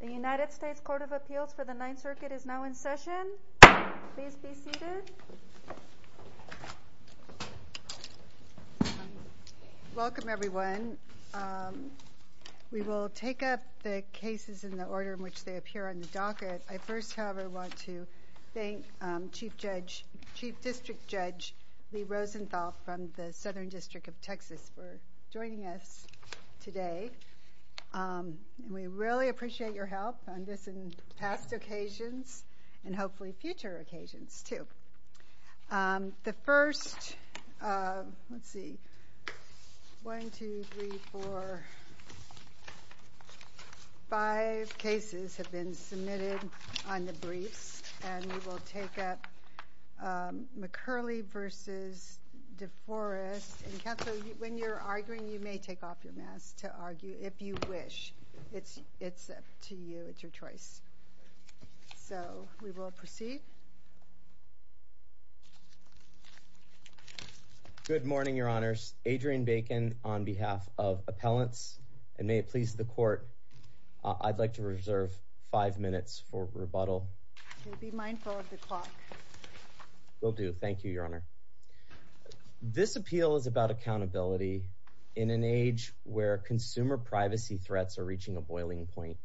The United States Court of Appeals for the Ninth Circuit is now in session. Please be seated. Welcome everyone. We will take up the cases in the order in which they appear on the docket. I first, however, want to thank Chief District Judge Lee Rosenthal from the Southern District of Texas for joining us today. We really appreciate your help on this and past occasions and hopefully future occasions too. The first, let's see, 1, 2, 3, 4, 5 cases have been submitted on the briefs and we will take up McCurley v. De Forest. And counsel, when you're arguing, you may take off your mask to argue if you wish. It's up to you. It's your choice. So we will proceed. Good morning, Your Honors. Adrian Bacon on behalf of appellants. And may it please the court, I'd like to reserve five minutes for rebuttal. Be mindful of the clock. Will do. Thank you, Your Honor. This appeal is about accountability in an age where consumer privacy threats are reaching a boiling point.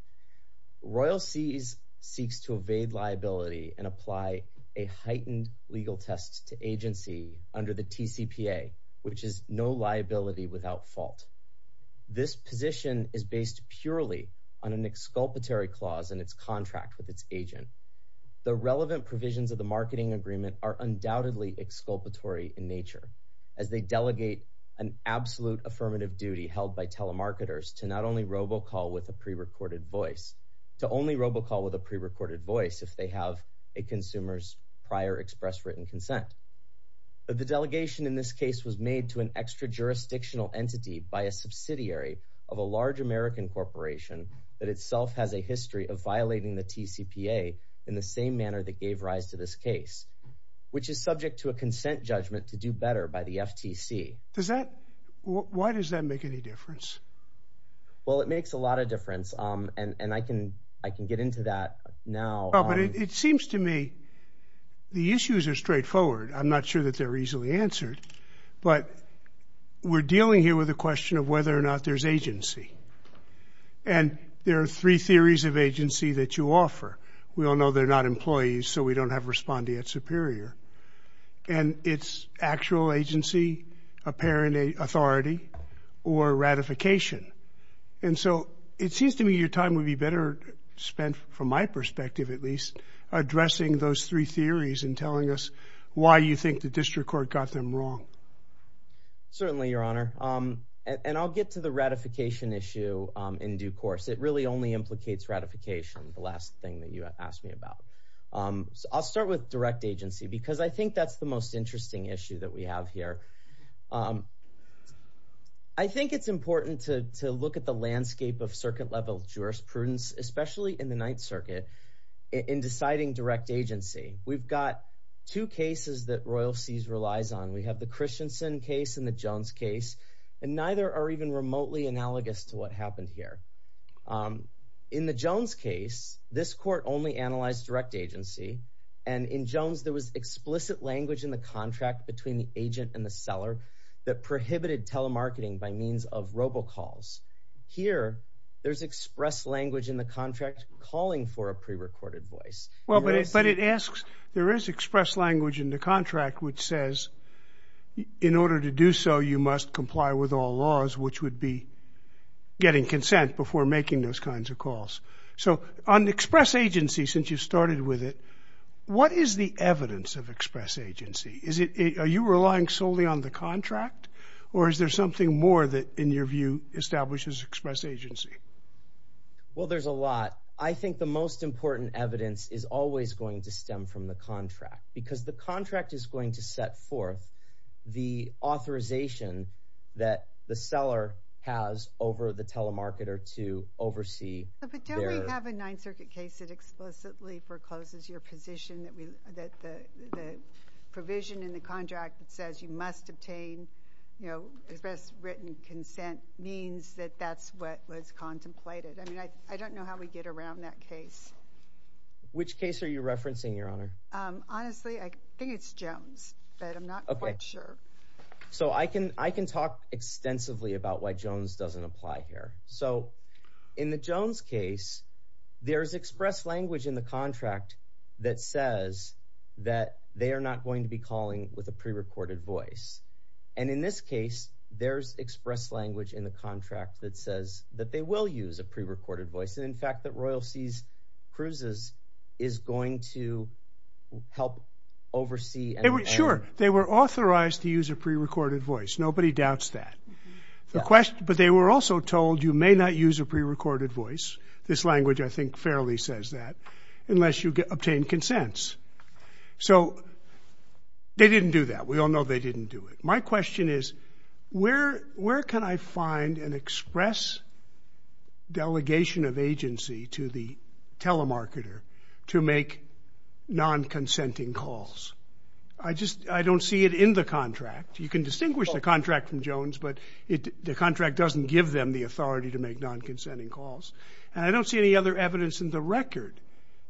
Royal Seas seeks to evade liability and apply a heightened legal test to agency under the TCPA, which is no liability without fault. This position is based purely on an exculpatory clause in its contract with its agent. The relevant provisions of the marketing agreement are undoubtedly exculpatory in nature as they delegate an absolute affirmative duty held by telemarketers to not only robocall with a prerecorded voice, to only robocall with a prerecorded voice if they have a consumer's prior express written consent. The delegation in this case was made to an extra jurisdictional entity by a subsidiary of a large American corporation that itself has a history of violating the TCPA in the same manner that gave rise to this case, which is subject to a consent judgment to do better by the FTC. Why does that make any difference? Well, it makes a lot of difference, and I can get into that now. Well, but it seems to me the issues are straightforward. I'm not sure that they're easily answered, but we're dealing here with a question of whether or not there's agency. And there are three theories of agency that you offer. We all know they're not employees, so we don't have respondeat superior. And it's actual agency, apparent authority, or ratification. And so it seems to me your time would be better spent, from my perspective at least, addressing those three theories and telling us why you think the district court got them wrong. Certainly, Your Honor. And I'll get to the ratification issue in due course. It really only implicates ratification, the last thing that you asked me about. I'll start with direct agency because I think that's the most interesting issue that we have here. I think it's important to look at the landscape of circuit-level jurisprudence, especially in the Ninth Circuit, in deciding direct agency. We've got two cases that Royal Seas relies on. We have the Christensen case and the Jones case, and neither are even remotely analogous to what happened here. In the Jones case, this court only analyzed direct agency. And in Jones, there was explicit language in the contract between the agent and the seller that prohibited telemarketing by means of robocalls. Here, there's expressed language in the contract calling for a prerecorded voice. Well, but it asks – there is expressed language in the contract which says, in order to do so, you must comply with all laws, which would be getting consent before making those kinds of calls. So on express agency, since you started with it, what is the evidence of express agency? Are you relying solely on the contract, or is there something more that, in your view, establishes express agency? Well, there's a lot. I think the most important evidence is always going to stem from the contract because the contract is going to set forth the authorization that the seller has over the telemarketer to oversee their – But don't we have a Ninth Circuit case that explicitly forecloses your position that the provision in the contract that says you must obtain, you know, express written consent means that that's what was contemplated? I mean, I don't know how we get around that case. Which case are you referencing, Your Honor? Honestly, I think it's Jones, but I'm not quite sure. So I can talk extensively about why Jones doesn't apply here. So in the Jones case, there's expressed language in the contract that says that they are not going to be calling with a prerecorded voice. And in this case, there's expressed language in the contract that says that they will use a prerecorded voice, and in fact that Royal Seas Cruises is going to help oversee – Sure. They were authorized to use a prerecorded voice. Nobody doubts that. But they were also told you may not use a prerecorded voice – this language, I think, fairly says that – unless you obtain consents. So they didn't do that. We all know they didn't do it. My question is where can I find an express delegation of agency to the telemarketer to make non-consenting calls? I just – I don't see it in the contract. You can distinguish the contract from Jones, but the contract doesn't give them the authority to make non-consenting calls. And I don't see any other evidence in the record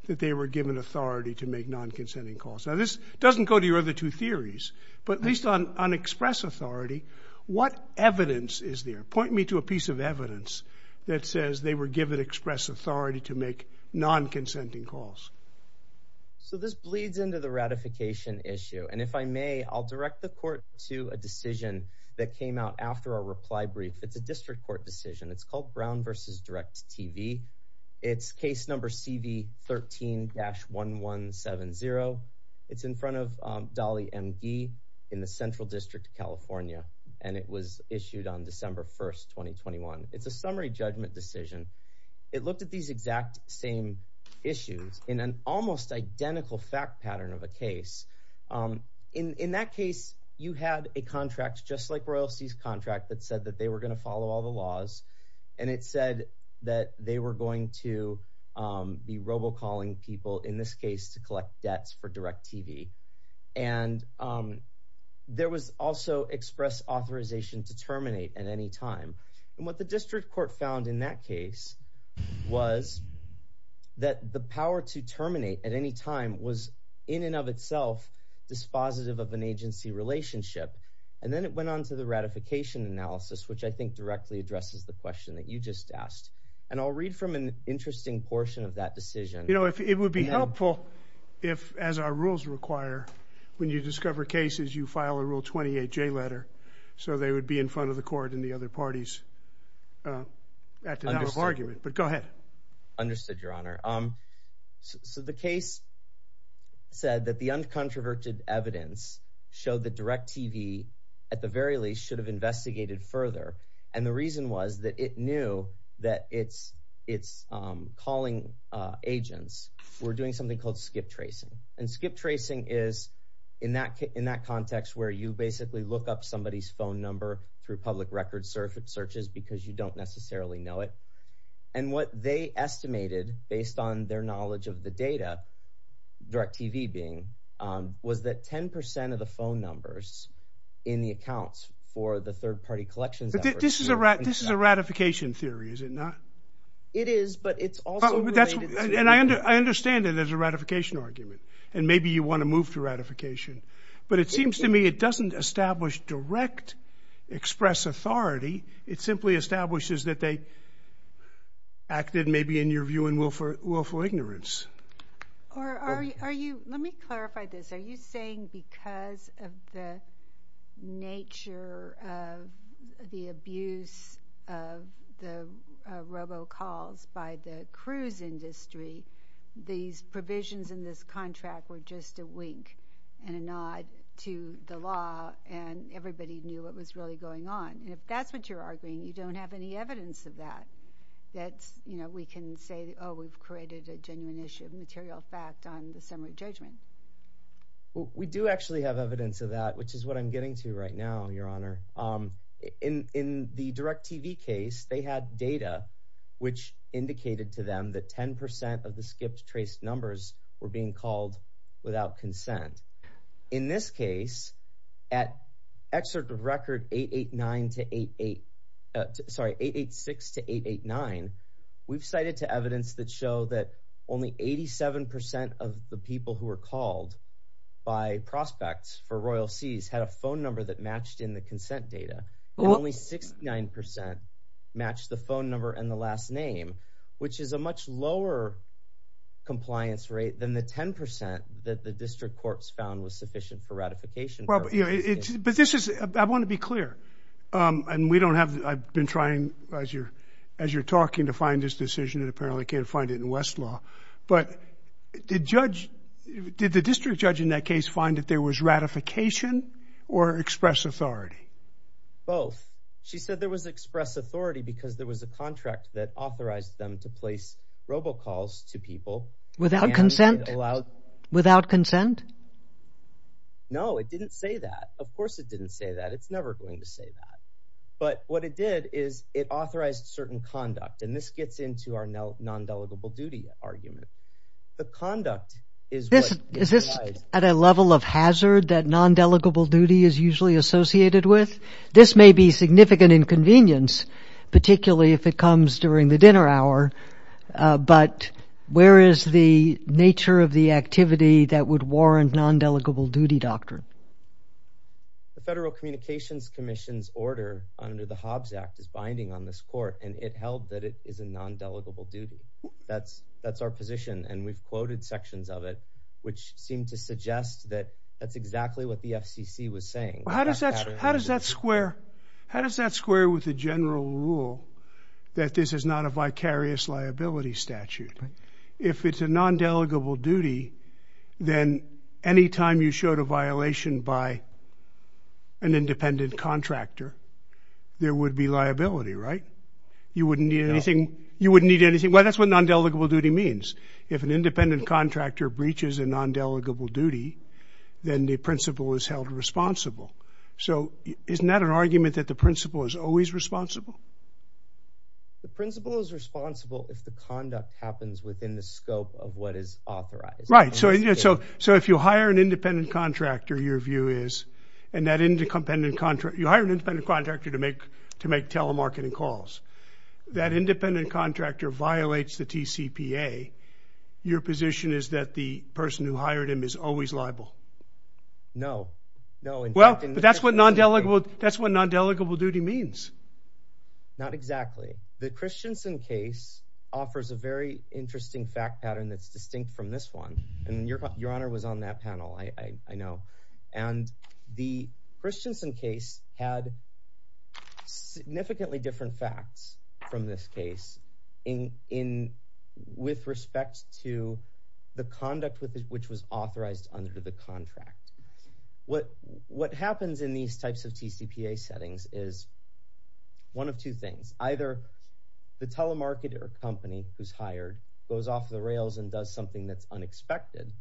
that they were given authority to make non-consenting calls. Now, this doesn't go to your other two theories, but at least on express authority, what evidence is there? Point me to a piece of evidence that says they were given express authority to make non-consenting calls. So this bleeds into the ratification issue, and if I may, I'll direct the court to a decision that came out after our reply brief. It's a district court decision. It's called Brown v. Direct TV. It's case number CB13-1170. It's in front of Dolly M. Gee in the Central District of California, and it was issued on December 1, 2021. It's a summary judgment decision. It looked at these exact same issues in an almost identical fact pattern of a case. In that case, you had a contract just like Royalty's contract that said that they were going to follow all the laws, and it said that they were going to be robocalling people, in this case, to collect debts for Direct TV. And there was also express authorization to terminate at any time. And what the district court found in that case was that the power to terminate at any time was in and of itself dispositive of an agency relationship. And then it went on to the ratification analysis, which I think directly addresses the question that you just asked. And I'll read from an interesting portion of that decision. You know, it would be helpful if, as our rules require, when you discover cases, you file a Rule 28J letter so they would be in front of the court and the other parties at the hour of argument. But go ahead. Understood, Your Honor. So the case said that the uncontroverted evidence showed that Direct TV, at the very least, should have investigated further. And the reason was that it knew that its calling agents were doing something called skip tracing. And skip tracing is, in that context, where you basically look up somebody's phone number through public record searches because you don't necessarily know it. And what they estimated, based on their knowledge of the data, Direct TV being, was that 10% of the phone numbers in the accounts for the third-party collections efforts... But this is a ratification theory, is it not? It is, but it's also related to... And I understand it as a ratification argument, and maybe you want to move to ratification. But it seems to me it doesn't establish direct express authority. It simply establishes that they acted maybe, in your view, in willful ignorance. Let me clarify this. Are you saying because of the nature of the abuse of the robocalls by the cruise industry, these provisions in this contract were just a wink and a nod to the law, and everybody knew what was really going on? If that's what you're arguing, you don't have any evidence of that. We can say, oh, we've created a genuine issue of material fact on the summary judgment. We do actually have evidence of that, which is what I'm getting to right now, Your Honor. In the Direct TV case, they had data which indicated to them that 10% of the skipped trace numbers were being called without consent. In this case, at excerpt of record 886-889, we've cited to evidence that show that only 87% of the people who were called by prospects for Royal Seas had a phone number that matched in the consent data. Only 69% matched the phone number and the last name, which is a much lower compliance rate than the 10% that the district courts found was sufficient for ratification. I want to be clear. I've been trying, as you're talking, to find this decision. Apparently, I can't find it in Westlaw. But did the district judge in that case find that there was ratification or express authority? Both. She said there was express authority because there was a contract that authorized them to place robocalls to people without consent. No, it didn't say that. Of course, it didn't say that. It's never going to say that. But what it did is it authorized certain conduct. And this gets into our non-delegable duty argument. The conduct is what- Is this at a level of hazard that non-delegable duty is usually associated with? This may be significant inconvenience, particularly if it comes during the dinner hour. But where is the nature of the activity that would warrant non-delegable duty doctrine? The Federal Communications Commission's order under the Hobbs Act is binding on this court. And it held that it is a non-delegable duty. That's our position. And we've quoted sections of it which seem to suggest that that's exactly what the FCC was saying. How does that square with the general rule that this is not a vicarious liability statute? If it's a non-delegable duty, then any time you showed a violation by an independent contractor, there would be liability, right? You wouldn't need anything. You wouldn't need anything. Well, that's what non-delegable duty means. If an independent contractor breaches a non-delegable duty, then the principal is held responsible. So isn't that an argument that the principal is always responsible? The principal is responsible if the conduct happens within the scope of what is authorized. Right. So if you hire an independent contractor, your view is, and you hire an independent contractor to make telemarketing calls, that independent contractor violates the TCPA, your position is that the person who hired him is always liable. No. Well, that's what non-delegable duty means. Not exactly. The Christensen case offers a very interesting fact pattern that's distinct from this one. Your Honor was on that panel, I know. And the Christensen case had significantly different facts from this case with respect to the conduct which was authorized under the contract. What happens in these types of TCPA settings is one of two things. Either the telemarketer company who's hired goes off the rails and does something that's unexpected,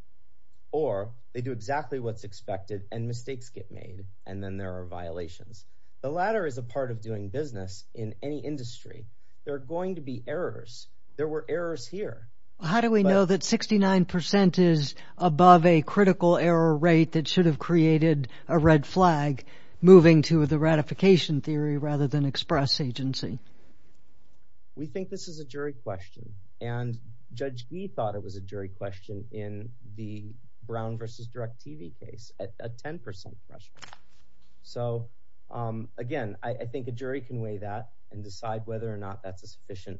or they do exactly what's expected and mistakes get made, and then there are violations. The latter is a part of doing business in any industry. There are going to be errors. There were errors here. How do we know that 69% is above a critical error rate that should have created a red flag, moving to the ratification theory rather than express agency? We think this is a jury question, and Judge Gee thought it was a jury question in the Brown v. Direct TV case, a 10% question. So, again, I think a jury can weigh that and decide whether or not that's a sufficient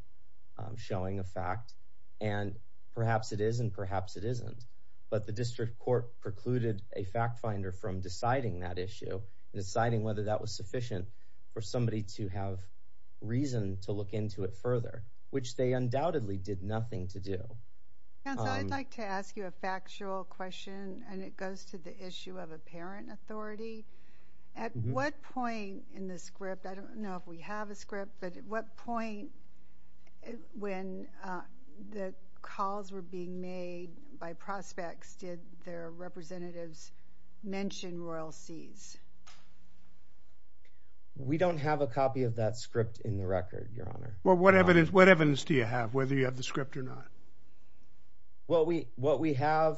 showing of fact, and perhaps it is and perhaps it isn't. But the district court precluded a fact finder from deciding that issue, deciding whether that was sufficient for somebody to have reason to look into it further, which they undoubtedly did nothing to do. Counsel, I'd like to ask you a factual question, and it goes to the issue of apparent authority. At what point in the script, I don't know if we have a script, but at what point when the calls were being made by prospects did their representatives mention royalties? We don't have a copy of that script in the record, Your Honor. Well, what evidence do you have, whether you have the script or not? Well, what we have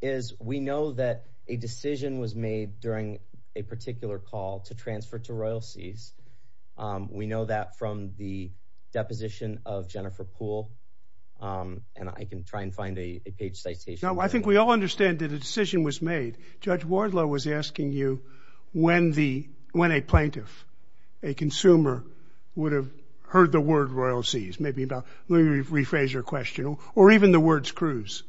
is we know that a decision was made during a particular call to transfer to royalties. We know that from the deposition of Jennifer Poole, and I can try and find a page citation. I think we all understand that a decision was made. Judge Wardlow was asking you when a plaintiff, a consumer, would have heard the word royalties. Let me rephrase your question. Or even the words cruise.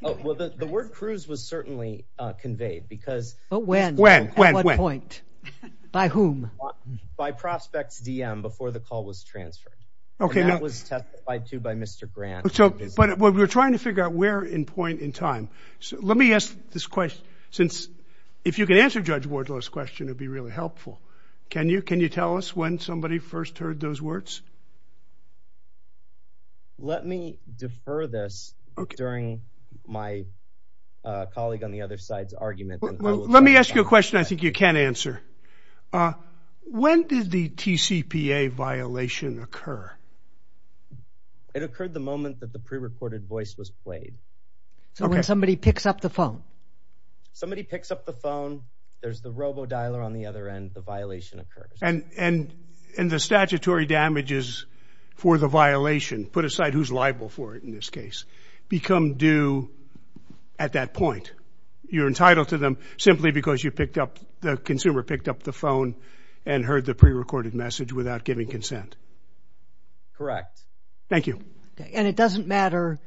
Well, the word cruise was certainly conveyed. But when? When? At what point? By whom? By prospects DM before the call was transferred. And that was testified to by Mr. Grant. But we're trying to figure out where in point in time. Let me ask this question, since if you can answer Judge Wardlow's question, it would be really helpful. Can you tell us when somebody first heard those words? Let me defer this during my colleague on the other side's argument. Let me ask you a question I think you can answer. When did the TCPA violation occur? It occurred the moment that the prerecorded voice was played. Okay. So when somebody picks up the phone. Somebody picks up the phone, there's the robo-dialer on the other end, the violation occurs. And the statutory damages for the violation, put aside who's liable for it in this case, become due at that point. You're entitled to them simply because you picked up, the consumer picked up the phone and heard the prerecorded message without giving consent. Correct. Thank you. And it doesn't matter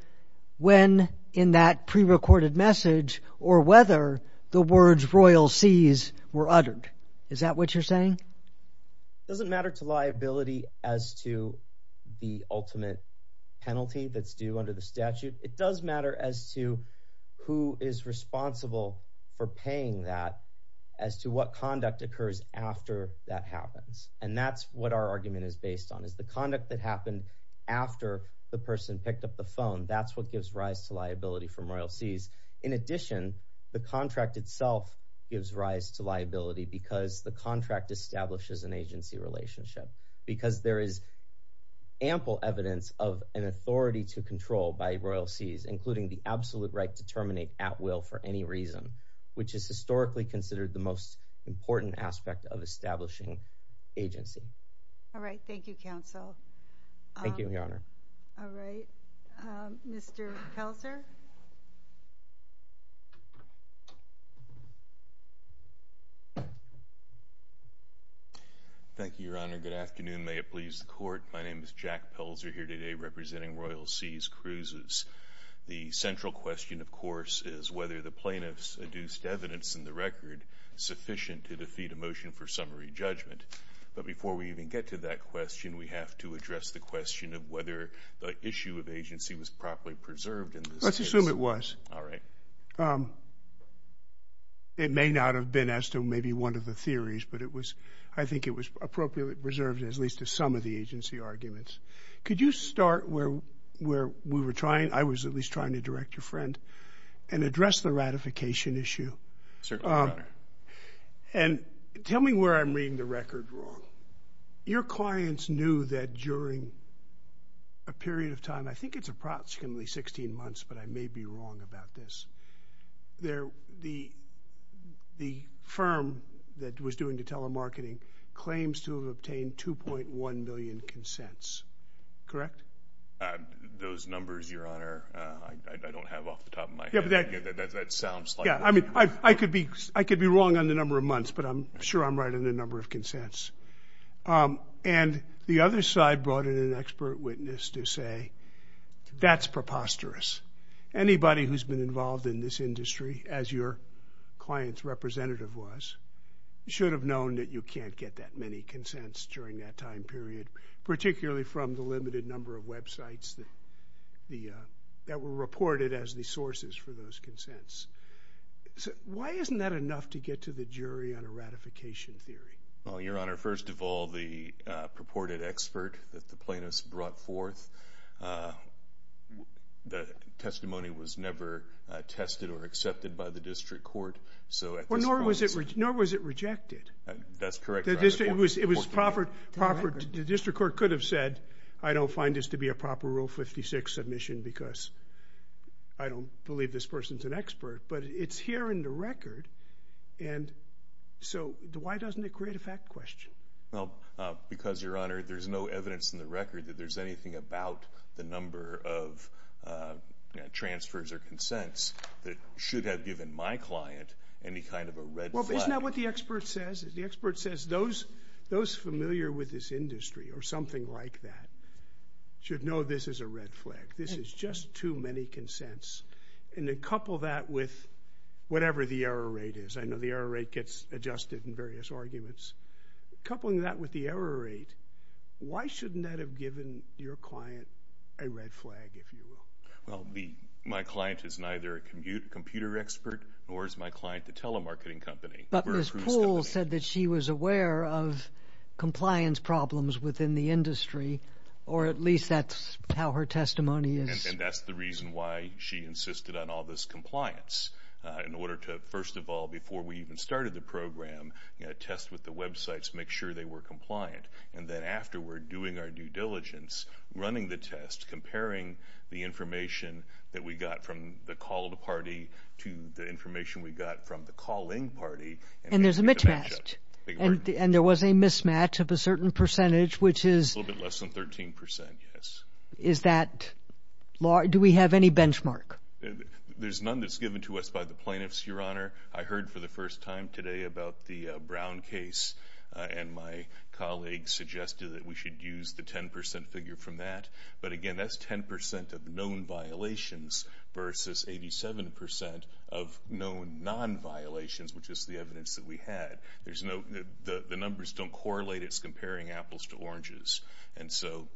when in that prerecorded message or whether the words royal sees were uttered. Is that what you're saying? It doesn't matter to liability as to the ultimate penalty that's due under the statute. It does matter as to who is responsible for paying that as to what conduct occurs after that happens. And that's what our argument is based on. The conduct that happened after the person picked up the phone, that's what gives rise to liability from royal sees. In addition, the contract itself gives rise to liability because the contract establishes an agency relationship. Because there is ample evidence of an authority to control by royal sees, including the absolute right to terminate at will for any reason. Which is historically considered the most important aspect of establishing agency. All right. Thank you, Counsel. Thank you, Your Honor. All right. Mr. Pelzer. Thank you, Your Honor. Good afternoon. May it please the Court. My name is Jack Pelzer here today representing Royal Sees Cruises. The central question, of course, is whether the plaintiffs adduced evidence in the record sufficient to defeat a motion for summary judgment. But before we even get to that question, we have to address the question of whether the issue of agency was properly preserved in this case. Let's assume it was. All right. It may not have been as to maybe one of the theories, but I think it was appropriately preserved, at least to some of the agency arguments. Could you start where we were trying? I was at least trying to direct your friend and address the ratification issue. Certainly, Your Honor. And tell me where I'm reading the record wrong. Your clients knew that during a period of time, I think it's approximately 16 months, but I may be wrong about this, the firm that was doing the telemarketing claims to have obtained 2.1 million consents. Correct? Those numbers, Your Honor, I don't have off the top of my head. That sounds like it. Yeah, I mean, I could be wrong on the number of months, but I'm sure I'm right on the number of consents. And the other side brought in an expert witness to say that's preposterous. Anybody who's been involved in this industry, as your client's representative was, should have known that you can't get that many consents during that time period, particularly from the limited number of websites that were reported as the sources for those consents. Why isn't that enough to get to the jury on a ratification theory? Well, Your Honor, first of all, the purported expert that the plaintiffs brought forth, the testimony was never tested or accepted by the district court. Nor was it rejected. That's correct. The district court could have said, I don't find this to be a proper Rule 56 submission because I don't believe this person's an expert. But it's here in the record, and so why doesn't it create a fact question? Well, because, Your Honor, there's no evidence in the record that there's anything about the number of transfers or consents that should have given my client any kind of a red flag. Well, isn't that what the expert says? The expert says those familiar with this industry or something like that should know this is a red flag. This is just too many consents. And then couple that with whatever the error rate is. I know the error rate gets adjusted in various arguments. Coupling that with the error rate, why shouldn't that have given your client a red flag, if you will? Well, my client is neither a computer expert nor is my client the telemarketing company. But Ms. Poole said that she was aware of compliance problems within the industry, or at least that's how her testimony is. And that's the reason why she insisted on all this compliance in order to, first of all, before we even started the program, test with the websites, make sure they were compliant. And then afterward, doing our due diligence, running the test, comparing the information that we got from the called party to the information we got from the calling party. And there's a mismatch. And there was a mismatch of a certain percentage, which is? A little bit less than 13 percent, yes. Is that large? Do we have any benchmark? There's none that's given to us by the plaintiffs, Your Honor. I heard for the first time today about the Brown case, and my colleague suggested that we should use the 10 percent figure from that. But, again, that's 10 percent of known violations versus 87 percent of known non-violations, which is the evidence that we had. The numbers don't correlate. It's comparing apples to oranges. And so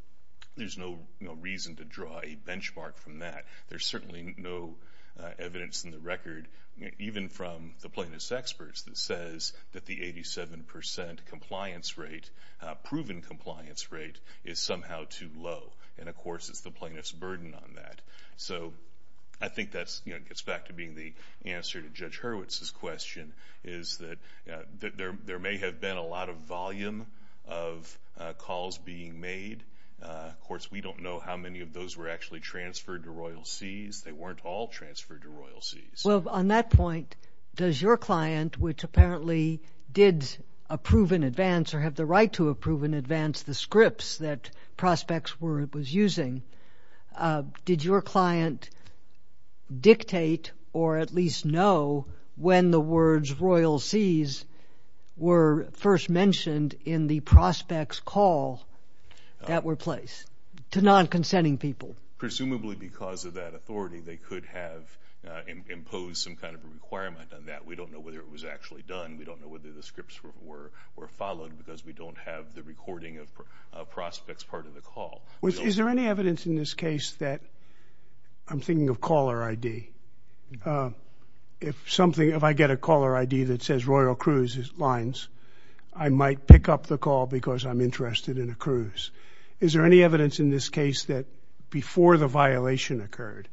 there's no reason to draw a benchmark from that. There's certainly no evidence in the record, even from the plaintiffs' experts, that says that the 87 percent compliance rate, proven compliance rate, is somehow too low. And, of course, it's the plaintiff's burden on that. So I think that gets back to being the answer to Judge Hurwitz's question, is that there may have been a lot of volume of calls being made. Of course, we don't know how many of those were actually transferred to Royal Seas. They weren't all transferred to Royal Seas. Well, on that point, does your client, which apparently did approve in advance or have the right to approve in advance the scripts that Prospects was using, did your client dictate or at least know when the words Royal Seas were first mentioned in the Prospects call that were placed to non-consenting people? Presumably because of that authority, they could have imposed some kind of a requirement on that. We don't know whether it was actually done. We don't know whether the scripts were followed because we don't have the recording of Prospects' part of the call. Is there any evidence in this case that—I'm thinking of caller ID. If I get a caller ID that says Royal Cruise Lines, I might pick up the call because I'm interested in a cruise. Is there any evidence in this case that before the violation occurred,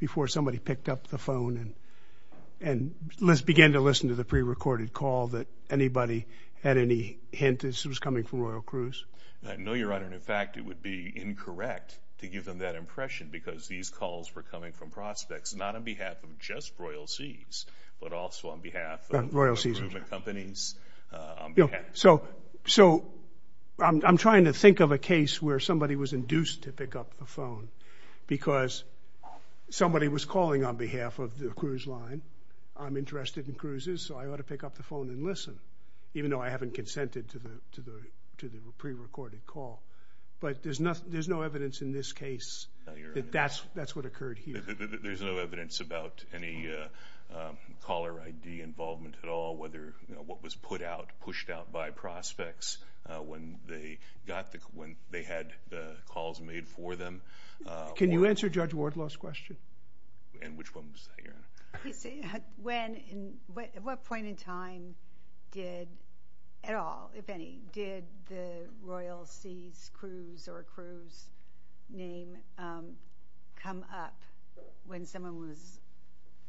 before somebody picked up the phone and began to listen to the prerecorded call, that anybody had any hint that this was coming from Royal Cruise? No, Your Honor. In fact, it would be incorrect to give them that impression because these calls were coming from Prospects not on behalf of just Royal Seas but also on behalf of— Royal Seas. So I'm trying to think of a case where somebody was induced to pick up the phone because somebody was calling on behalf of the cruise line. I'm interested in cruises, so I ought to pick up the phone and listen, even though I haven't consented to the prerecorded call. But there's no evidence in this case that that's what occurred here. There's no evidence about any caller ID involvement at all, what was put out, pushed out by Prospects when they had the calls made for them. Can you answer Judge Wardlaw's question? And which one was that, Your Honor? At what point in time did at all, if any, did the Royal Seas cruise or cruise name come up when someone was—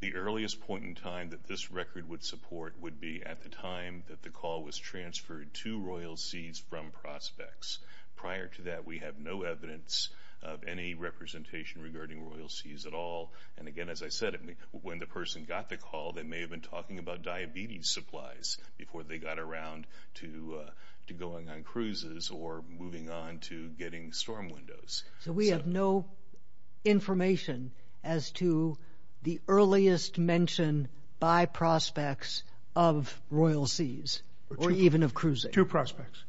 The earliest point in time that this record would support would be at the time that the call was transferred to Royal Seas from Prospects. Prior to that, we have no evidence of any representation regarding Royal Seas at all. And again, as I said, when the person got the call, they may have been talking about diabetes supplies before they got around to going on cruises or moving on to getting storm windows. So we have no information as to the earliest mention by Prospects of Royal Seas or even of cruising? Two Prospects.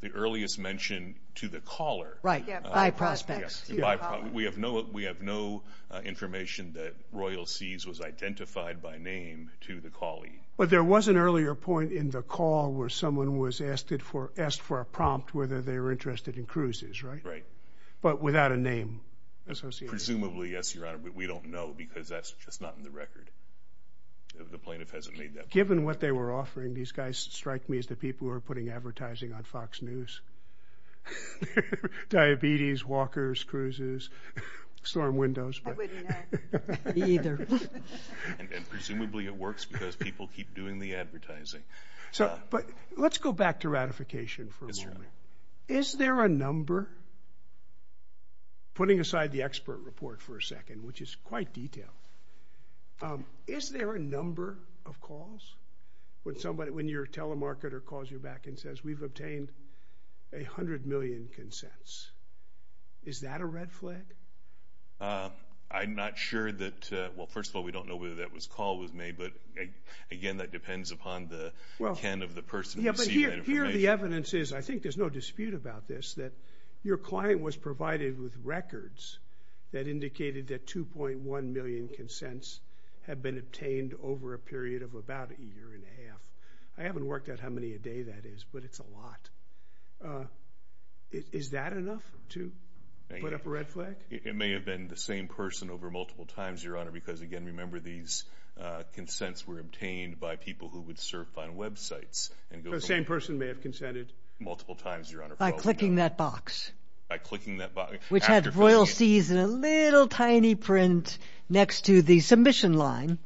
The earliest mention to the caller. Right, by Prospects. We have no information that Royal Seas was identified by name to the callee. But there was an earlier point in the call where someone was asked for a prompt whether they were interested in cruises, right? Right. But without a name associated? Presumably, yes, Your Honor, but we don't know because that's just not in the record. The plaintiff hasn't made that point. Given what they were offering, these guys strike me as the people who are putting advertising on Fox News. Diabetes, walkers, cruises, storm windows. I wouldn't have either. And presumably it works because people keep doing the advertising. But let's go back to ratification for a moment. Is there a number? Putting aside the expert report for a second, which is quite detailed, is there a number of calls when your telemarketer calls you back and says, we've obtained 100 million consents? Is that a red flag? I'm not sure that, well, first of all, we don't know whether that call was made, but, again, that depends upon the intent of the person who received that information. Yeah, but here the evidence is, I think there's no dispute about this, that your client was provided with records that indicated that 2.1 million consents had been obtained over a period of about a year and a half. I haven't worked out how many a day that is, but it's a lot. Is that enough to put up a red flag? It may have been the same person over multiple times, Your Honor, because, again, remember these consents were obtained by people who would surf on websites. So the same person may have consented? Multiple times, Your Honor. By clicking that box? By clicking that box. Which had Royal Seas in a little tiny print next to the submission line.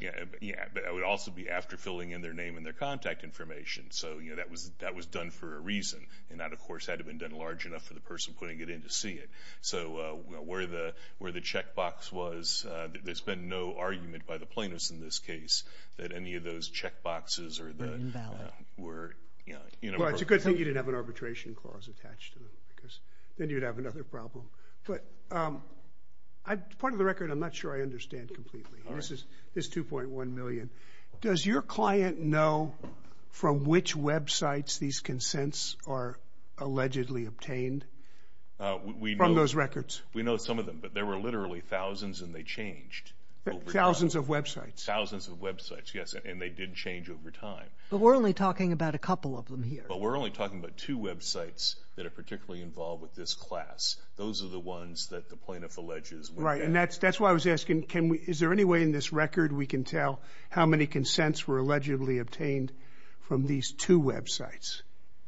Yeah, but it would also be after filling in their name and their contact information. So, you know, that was done for a reason, and that, of course, had to have been done large enough for the person putting it in to see it. So where the checkbox was, there's been no argument by the plaintiffs in this case that any of those checkboxes were, you know. Well, it's a good thing you didn't have an arbitration clause attached to it because then you'd have another problem. But part of the record I'm not sure I understand completely. This is 2.1 million. Does your client know from which websites these consents are allegedly obtained from those records? We know some of them, but there were literally thousands and they changed. Thousands of websites? Thousands of websites, yes, and they did change over time. But we're only talking about a couple of them here. But we're only talking about two websites that are particularly involved with this class. Those are the ones that the plaintiff alleges. Right, and that's why I was asking, is there any way in this record we can tell how many consents were allegedly obtained from these two websites?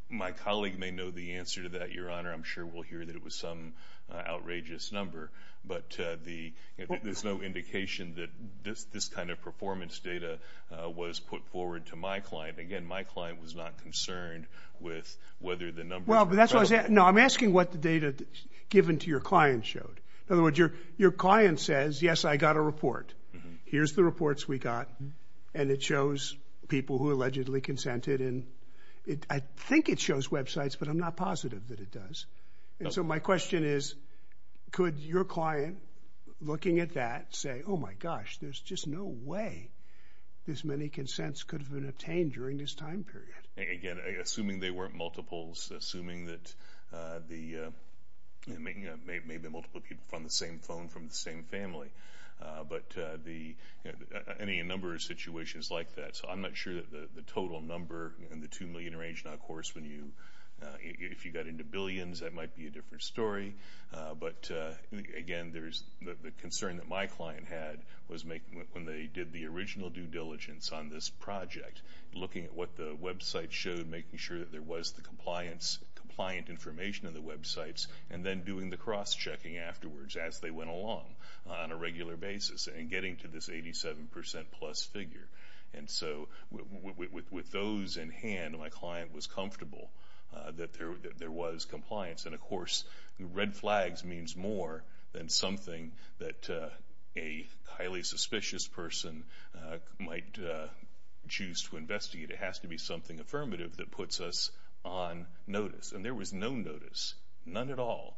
My colleague may know the answer to that, Your Honor. I'm sure we'll hear that it was some outrageous number. But there's no indication that this kind of performance data was put forward to my client. No, I'm asking what the data given to your client showed. In other words, your client says, yes, I got a report. Here's the reports we got, and it shows people who allegedly consented. I think it shows websites, but I'm not positive that it does. So my question is, could your client, looking at that, say, oh, my gosh, there's just no way this many consents could have been obtained during this time period? Again, assuming they weren't multiples, assuming that maybe multiple people on the same phone from the same family, but any number of situations like that. So I'm not sure that the total number in the $2 million range. Now, of course, if you got into billions, that might be a different story. But, again, the concern that my client had was when they did the original due diligence on this project, looking at what the website showed, making sure that there was the compliant information in the websites, and then doing the cross-checking afterwards as they went along on a regular basis and getting to this 87% plus figure. And so with those in hand, my client was comfortable that there was compliance. And, of course, red flags means more than something that a highly suspicious person might choose to investigate. It has to be something affirmative that puts us on notice. And there was no notice, none at all,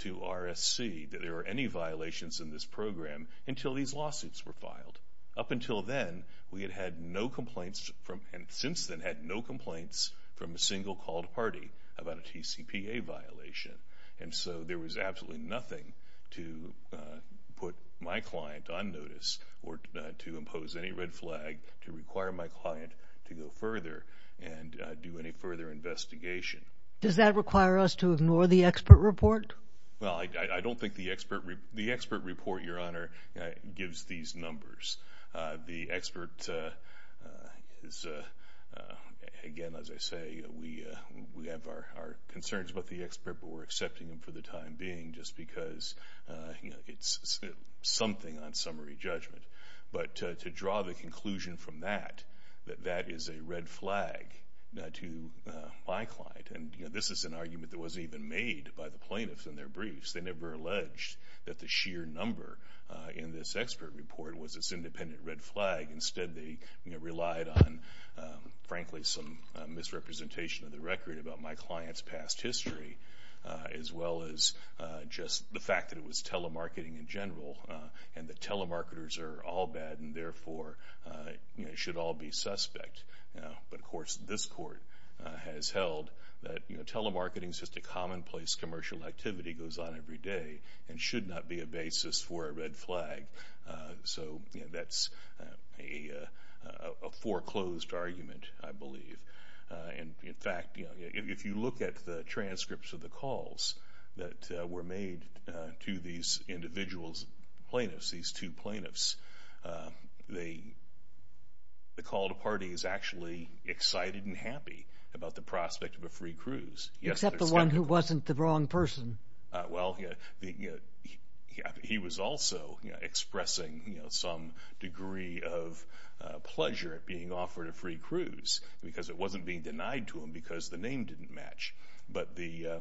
to RSC that there were any violations in this program until these lawsuits were filed. Up until then, we had had no complaints, and since then had no complaints, from a single called party about a TCPA violation. And so there was absolutely nothing to put my client on notice or to impose any red flag to require my client to go further and do any further investigation. Does that require us to ignore the expert report? Well, I don't think the expert report, Your Honor, gives these numbers. The expert is, again, as I say, we have our concerns about the expert, but we're accepting them for the time being just because it's something on summary judgment. But to draw the conclusion from that, that that is a red flag to my client, and this is an argument that wasn't even made by the plaintiffs in their briefs. They never alleged that the sheer number in this expert report was this independent red flag. Instead, they relied on, frankly, some misrepresentation of the record about my client's past history as well as just the fact that it was telemarketing in general and that telemarketers are all bad and therefore should all be suspect. But, of course, this Court has held that telemarketing is just a commonplace commercial activity, goes on every day, and should not be a basis for a red flag. So that's a foreclosed argument, I believe. In fact, if you look at the transcripts of the calls that were made to these individuals, these two plaintiffs, the call to party is actually excited and happy about the prospect of a free cruise. Except the one who wasn't the wrong person. Well, he was also expressing some degree of pleasure at being offered a free cruise because it wasn't being denied to him because the name didn't match. But there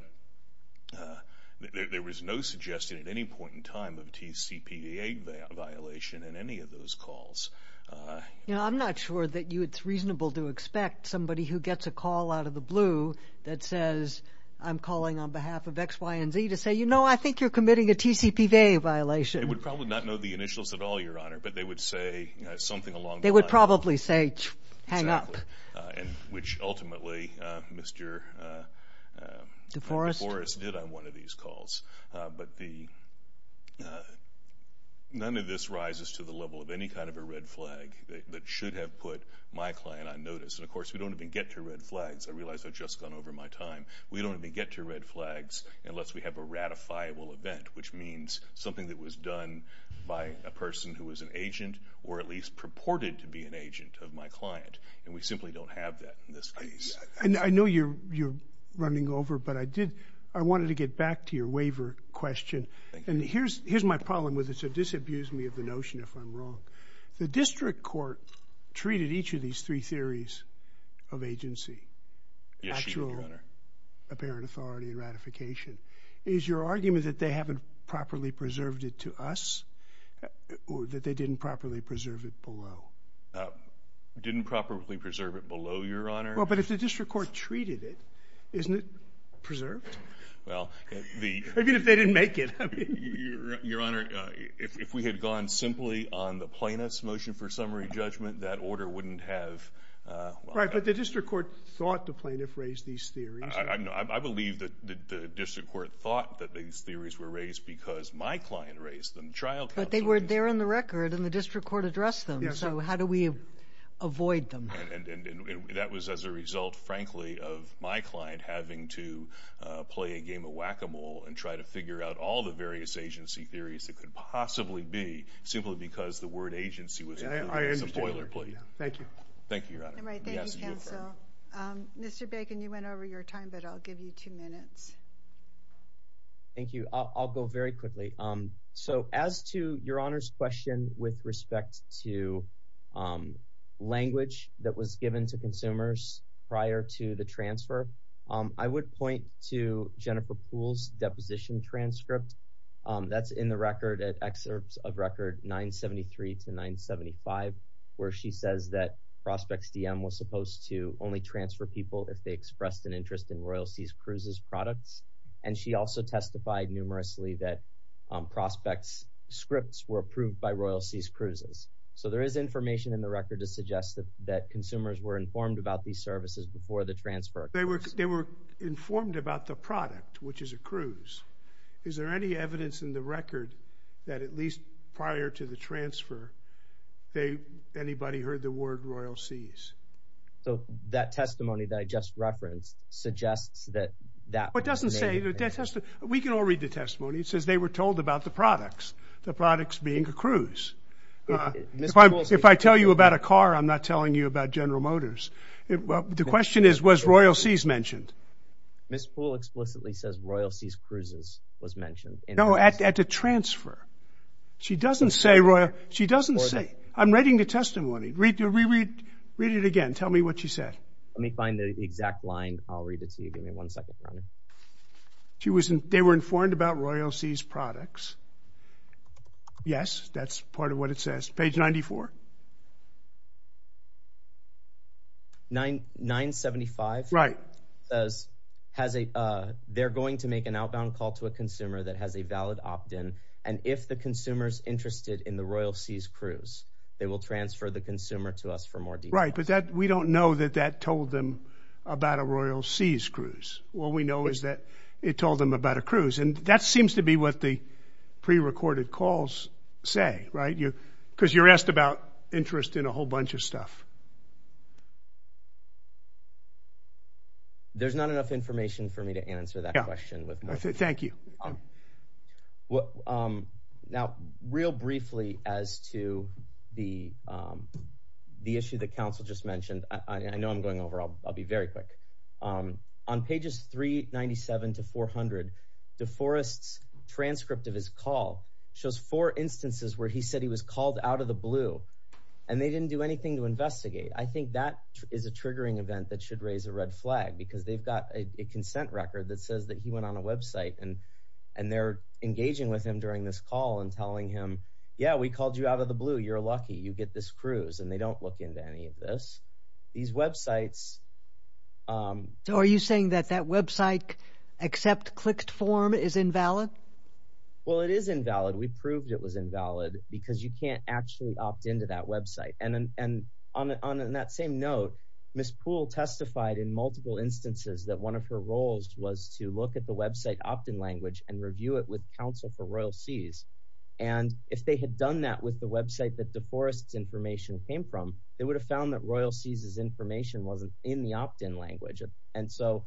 was no suggestion at any point in time of a TCPA violation in any of those calls. I'm not sure that it's reasonable to expect somebody who gets a call out of the blue that says, I'm calling on behalf of X, Y, and Z to say, you know, I think you're committing a TCPA violation. They would probably not know the initials at all, Your Honor, but they would say something along the lines of They would probably say, hang up. Which ultimately Mr. Forrest did on one of these calls. But none of this rises to the level of any kind of a red flag that should have put my client on notice. And, of course, we don't even get to red flags. I realize I've just gone over my time. We don't even get to red flags unless we have a ratifiable event, which means something that was done by a person who was an agent or at least purported to be an agent of my client. And we simply don't have that in this case. And I know you're running over, but I wanted to get back to your waiver question. And here's my problem with it, so disabuse me of the notion if I'm wrong. The district court treated each of these three theories of agency. Yes, Your Honor. Actual, apparent authority and ratification. Is your argument that they haven't properly preserved it to us or that they didn't properly preserve it below? Didn't properly preserve it below, Your Honor. Well, but if the district court treated it, isn't it preserved? Well, the— Even if they didn't make it, I mean. Your Honor, if we had gone simply on the plaintiff's motion for summary judgment, that order wouldn't have— Right, but the district court thought the plaintiff raised these theories. I believe that the district court thought that these theories were raised because my client raised them. But they were there in the record and the district court addressed them, so how do we avoid them? And that was as a result, frankly, of my client having to play a game of whack-a-mole and try to figure out all the various agency theories that could possibly be simply because the word agency was included. I understand. It's a boilerplate. Thank you. Thank you, Your Honor. Thank you, counsel. Mr. Bacon, you went over your time, but I'll give you two minutes. Thank you. I'll go very quickly. Great. So as to Your Honor's question with respect to language that was given to consumers prior to the transfer, I would point to Jennifer Poole's deposition transcript that's in the record, at excerpts of record 973 to 975, where she says that Prospects DM was supposed to only transfer people if they expressed an interest in Royal Seas Cruise's products. And she also testified numerously that Prospects' scripts were approved by Royal Seas Cruises. So there is information in the record to suggest that consumers were informed about these services before the transfer. They were informed about the product, which is a cruise. Is there any evidence in the record that at least prior to the transfer, anybody heard the word Royal Seas? So that testimony that I just referenced suggests that that was the case. We can all read the testimony. It says they were told about the products, the products being a cruise. If I tell you about a car, I'm not telling you about General Motors. The question is, was Royal Seas mentioned? Ms. Poole explicitly says Royal Seas Cruises was mentioned. No, at the transfer. She doesn't say Royal Seas. I'm reading the testimony. Read it again. Tell me what she said. Let me find the exact line. I'll read it to you. Give me one second, Ronnie. They were informed about Royal Seas products. Yes, that's part of what it says. Page 94. 975. Right. They're going to make an outbound call to a consumer that has a valid opt-in. And if the consumer is interested in the Royal Seas Cruise, they will transfer the consumer to us for more details. Right, but we don't know that that told them about a Royal Seas Cruise. All we know is that it told them about a cruise. And that seems to be what the prerecorded calls say, right? Because you're asked about interest in a whole bunch of stuff. There's not enough information for me to answer that question. Thank you. Now, real briefly as to the issue that counsel just mentioned, I know I'm going over, I'll be very quick. On pages 397 to 400, DeForest's transcript of his call shows four instances where he said he was called out of the blue. And they didn't do anything to investigate. I think that is a triggering event that should raise a red flag because they've got a consent record that says that he went on a website. And they're engaging with him during this call and telling him, yeah, we called you out of the blue. You're lucky. You get this cruise. And they don't look into any of this. These websites. So are you saying that that website except clicked form is invalid? Well, it is invalid. We proved it was invalid because you can't actually opt into that website. And on that same note, Ms. Poole testified in multiple instances that one of her roles was to look at the website opt-in language and review it with counsel for Royal Seas. And if they had done that with the website that DeForest's information came from, they would have found that Royal Seas' information wasn't in the opt-in language. And so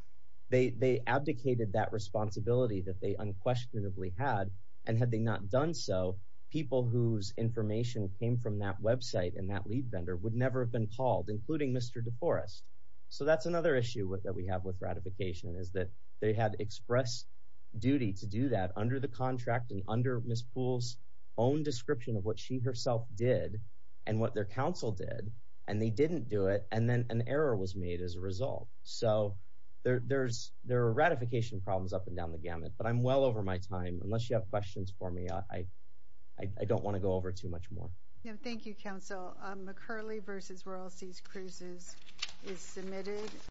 they abdicated that responsibility that they unquestionably had. And had they not done so, people whose information came from that website and that lead vendor would never have been called, including Mr. DeForest. So that's another issue that we have with ratification is that they had expressed duty to do that under the contract and under Ms. Poole's own description of what she herself did and what their counsel did. And they didn't do it. And then an error was made as a result. So there are ratification problems up and down the gamut. But I'm well over my time. Unless you have questions for me, I don't want to go over too much more. Thank you, counsel. McCurley v. Royal Seas Cruises is submitted.